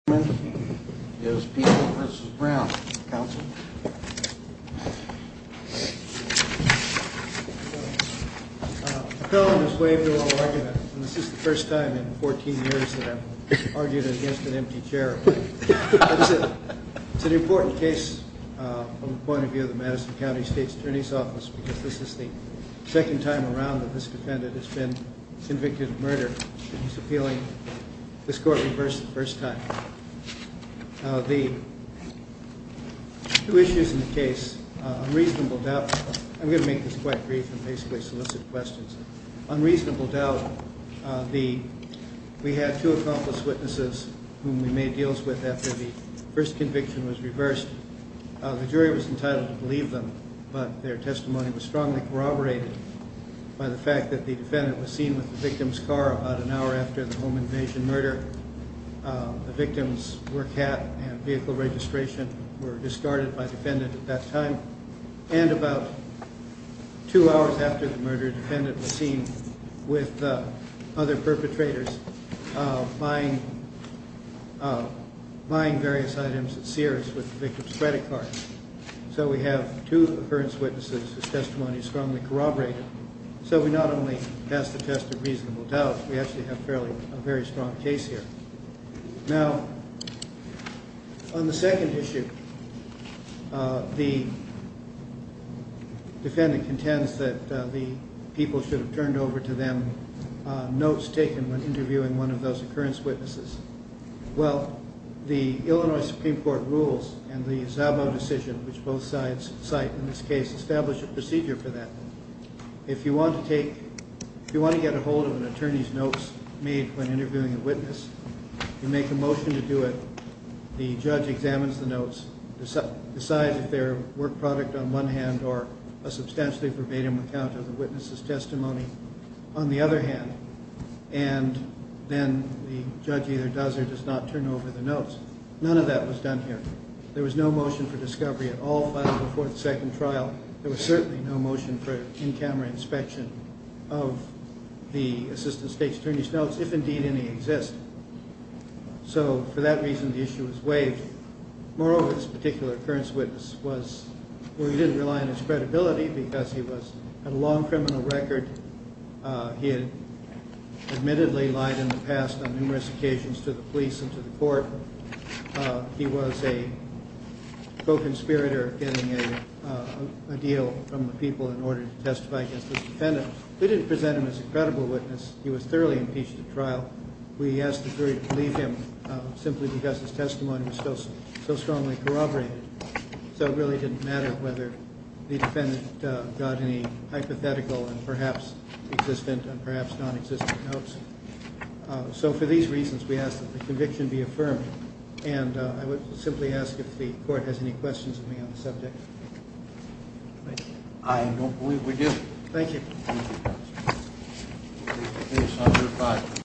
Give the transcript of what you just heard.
This is the first time in fourteen years that I've argued against an empty chair. It's an important case from the point of view of the Madison County State's Attorney's Office because this is the second time around that this defendant has been convicted of murder. The two issues in the case, unreasonable doubt, I'm going to make this quite brief and basically solicit questions. Unreasonable doubt, we had two accomplice witnesses whom we made deals with after the first conviction was reversed. The jury was entitled to believe them, but their testimony was strongly corroborated by the fact that the defendant was seen with the victim's car about an hour after the home invasion murder. The victim's work hat and vehicle registration were discarded by the defendant at that time, and about two hours after the murder, the defendant was seen with other perpetrators buying various items at Sears with the victim's credit card. So we have two occurrence witnesses whose testimony is strongly corroborated. So we not only passed the test of reasonable doubt, we actually have a very strong case here. Now, on the second issue, the defendant contends that the people should have turned over to them notes taken when interviewing one of those occurrence witnesses. Well, the Illinois Supreme Court rules and the Zabo decision, which both sides cite in this case, establish a procedure for that. If you want to get a hold of an attorney's notes made when interviewing a witness, you make a motion to do it. The judge examines the notes, decides if they're a work product on one hand or a substantially verbatim account of the witness's testimony on the other hand, and then the judge either does or does not turn over the notes. None of that was done here. There was no motion for discovery at all filed before the second trial. There was certainly no motion for in-camera inspection of the assistant state's attorney's notes, if indeed any exist. So for that reason, the issue was waived. Moreover, this particular occurrence witness didn't rely on his credibility because he had a long criminal record. He had admittedly lied in the past on numerous occasions to the police and to the court. He was a co-conspirator of getting a deal from the people in order to testify against this defendant. We didn't present him as a credible witness. He was thoroughly impeached at trial. We asked the jury to leave him simply because his testimony was so strongly corroborated. So it really didn't matter whether the defendant got any hypothetical and perhaps existent and perhaps nonexistent notes. So for these reasons, we ask that the conviction be affirmed. And I would simply ask if the court has any questions of me on the subject. I don't believe we do. Thank you.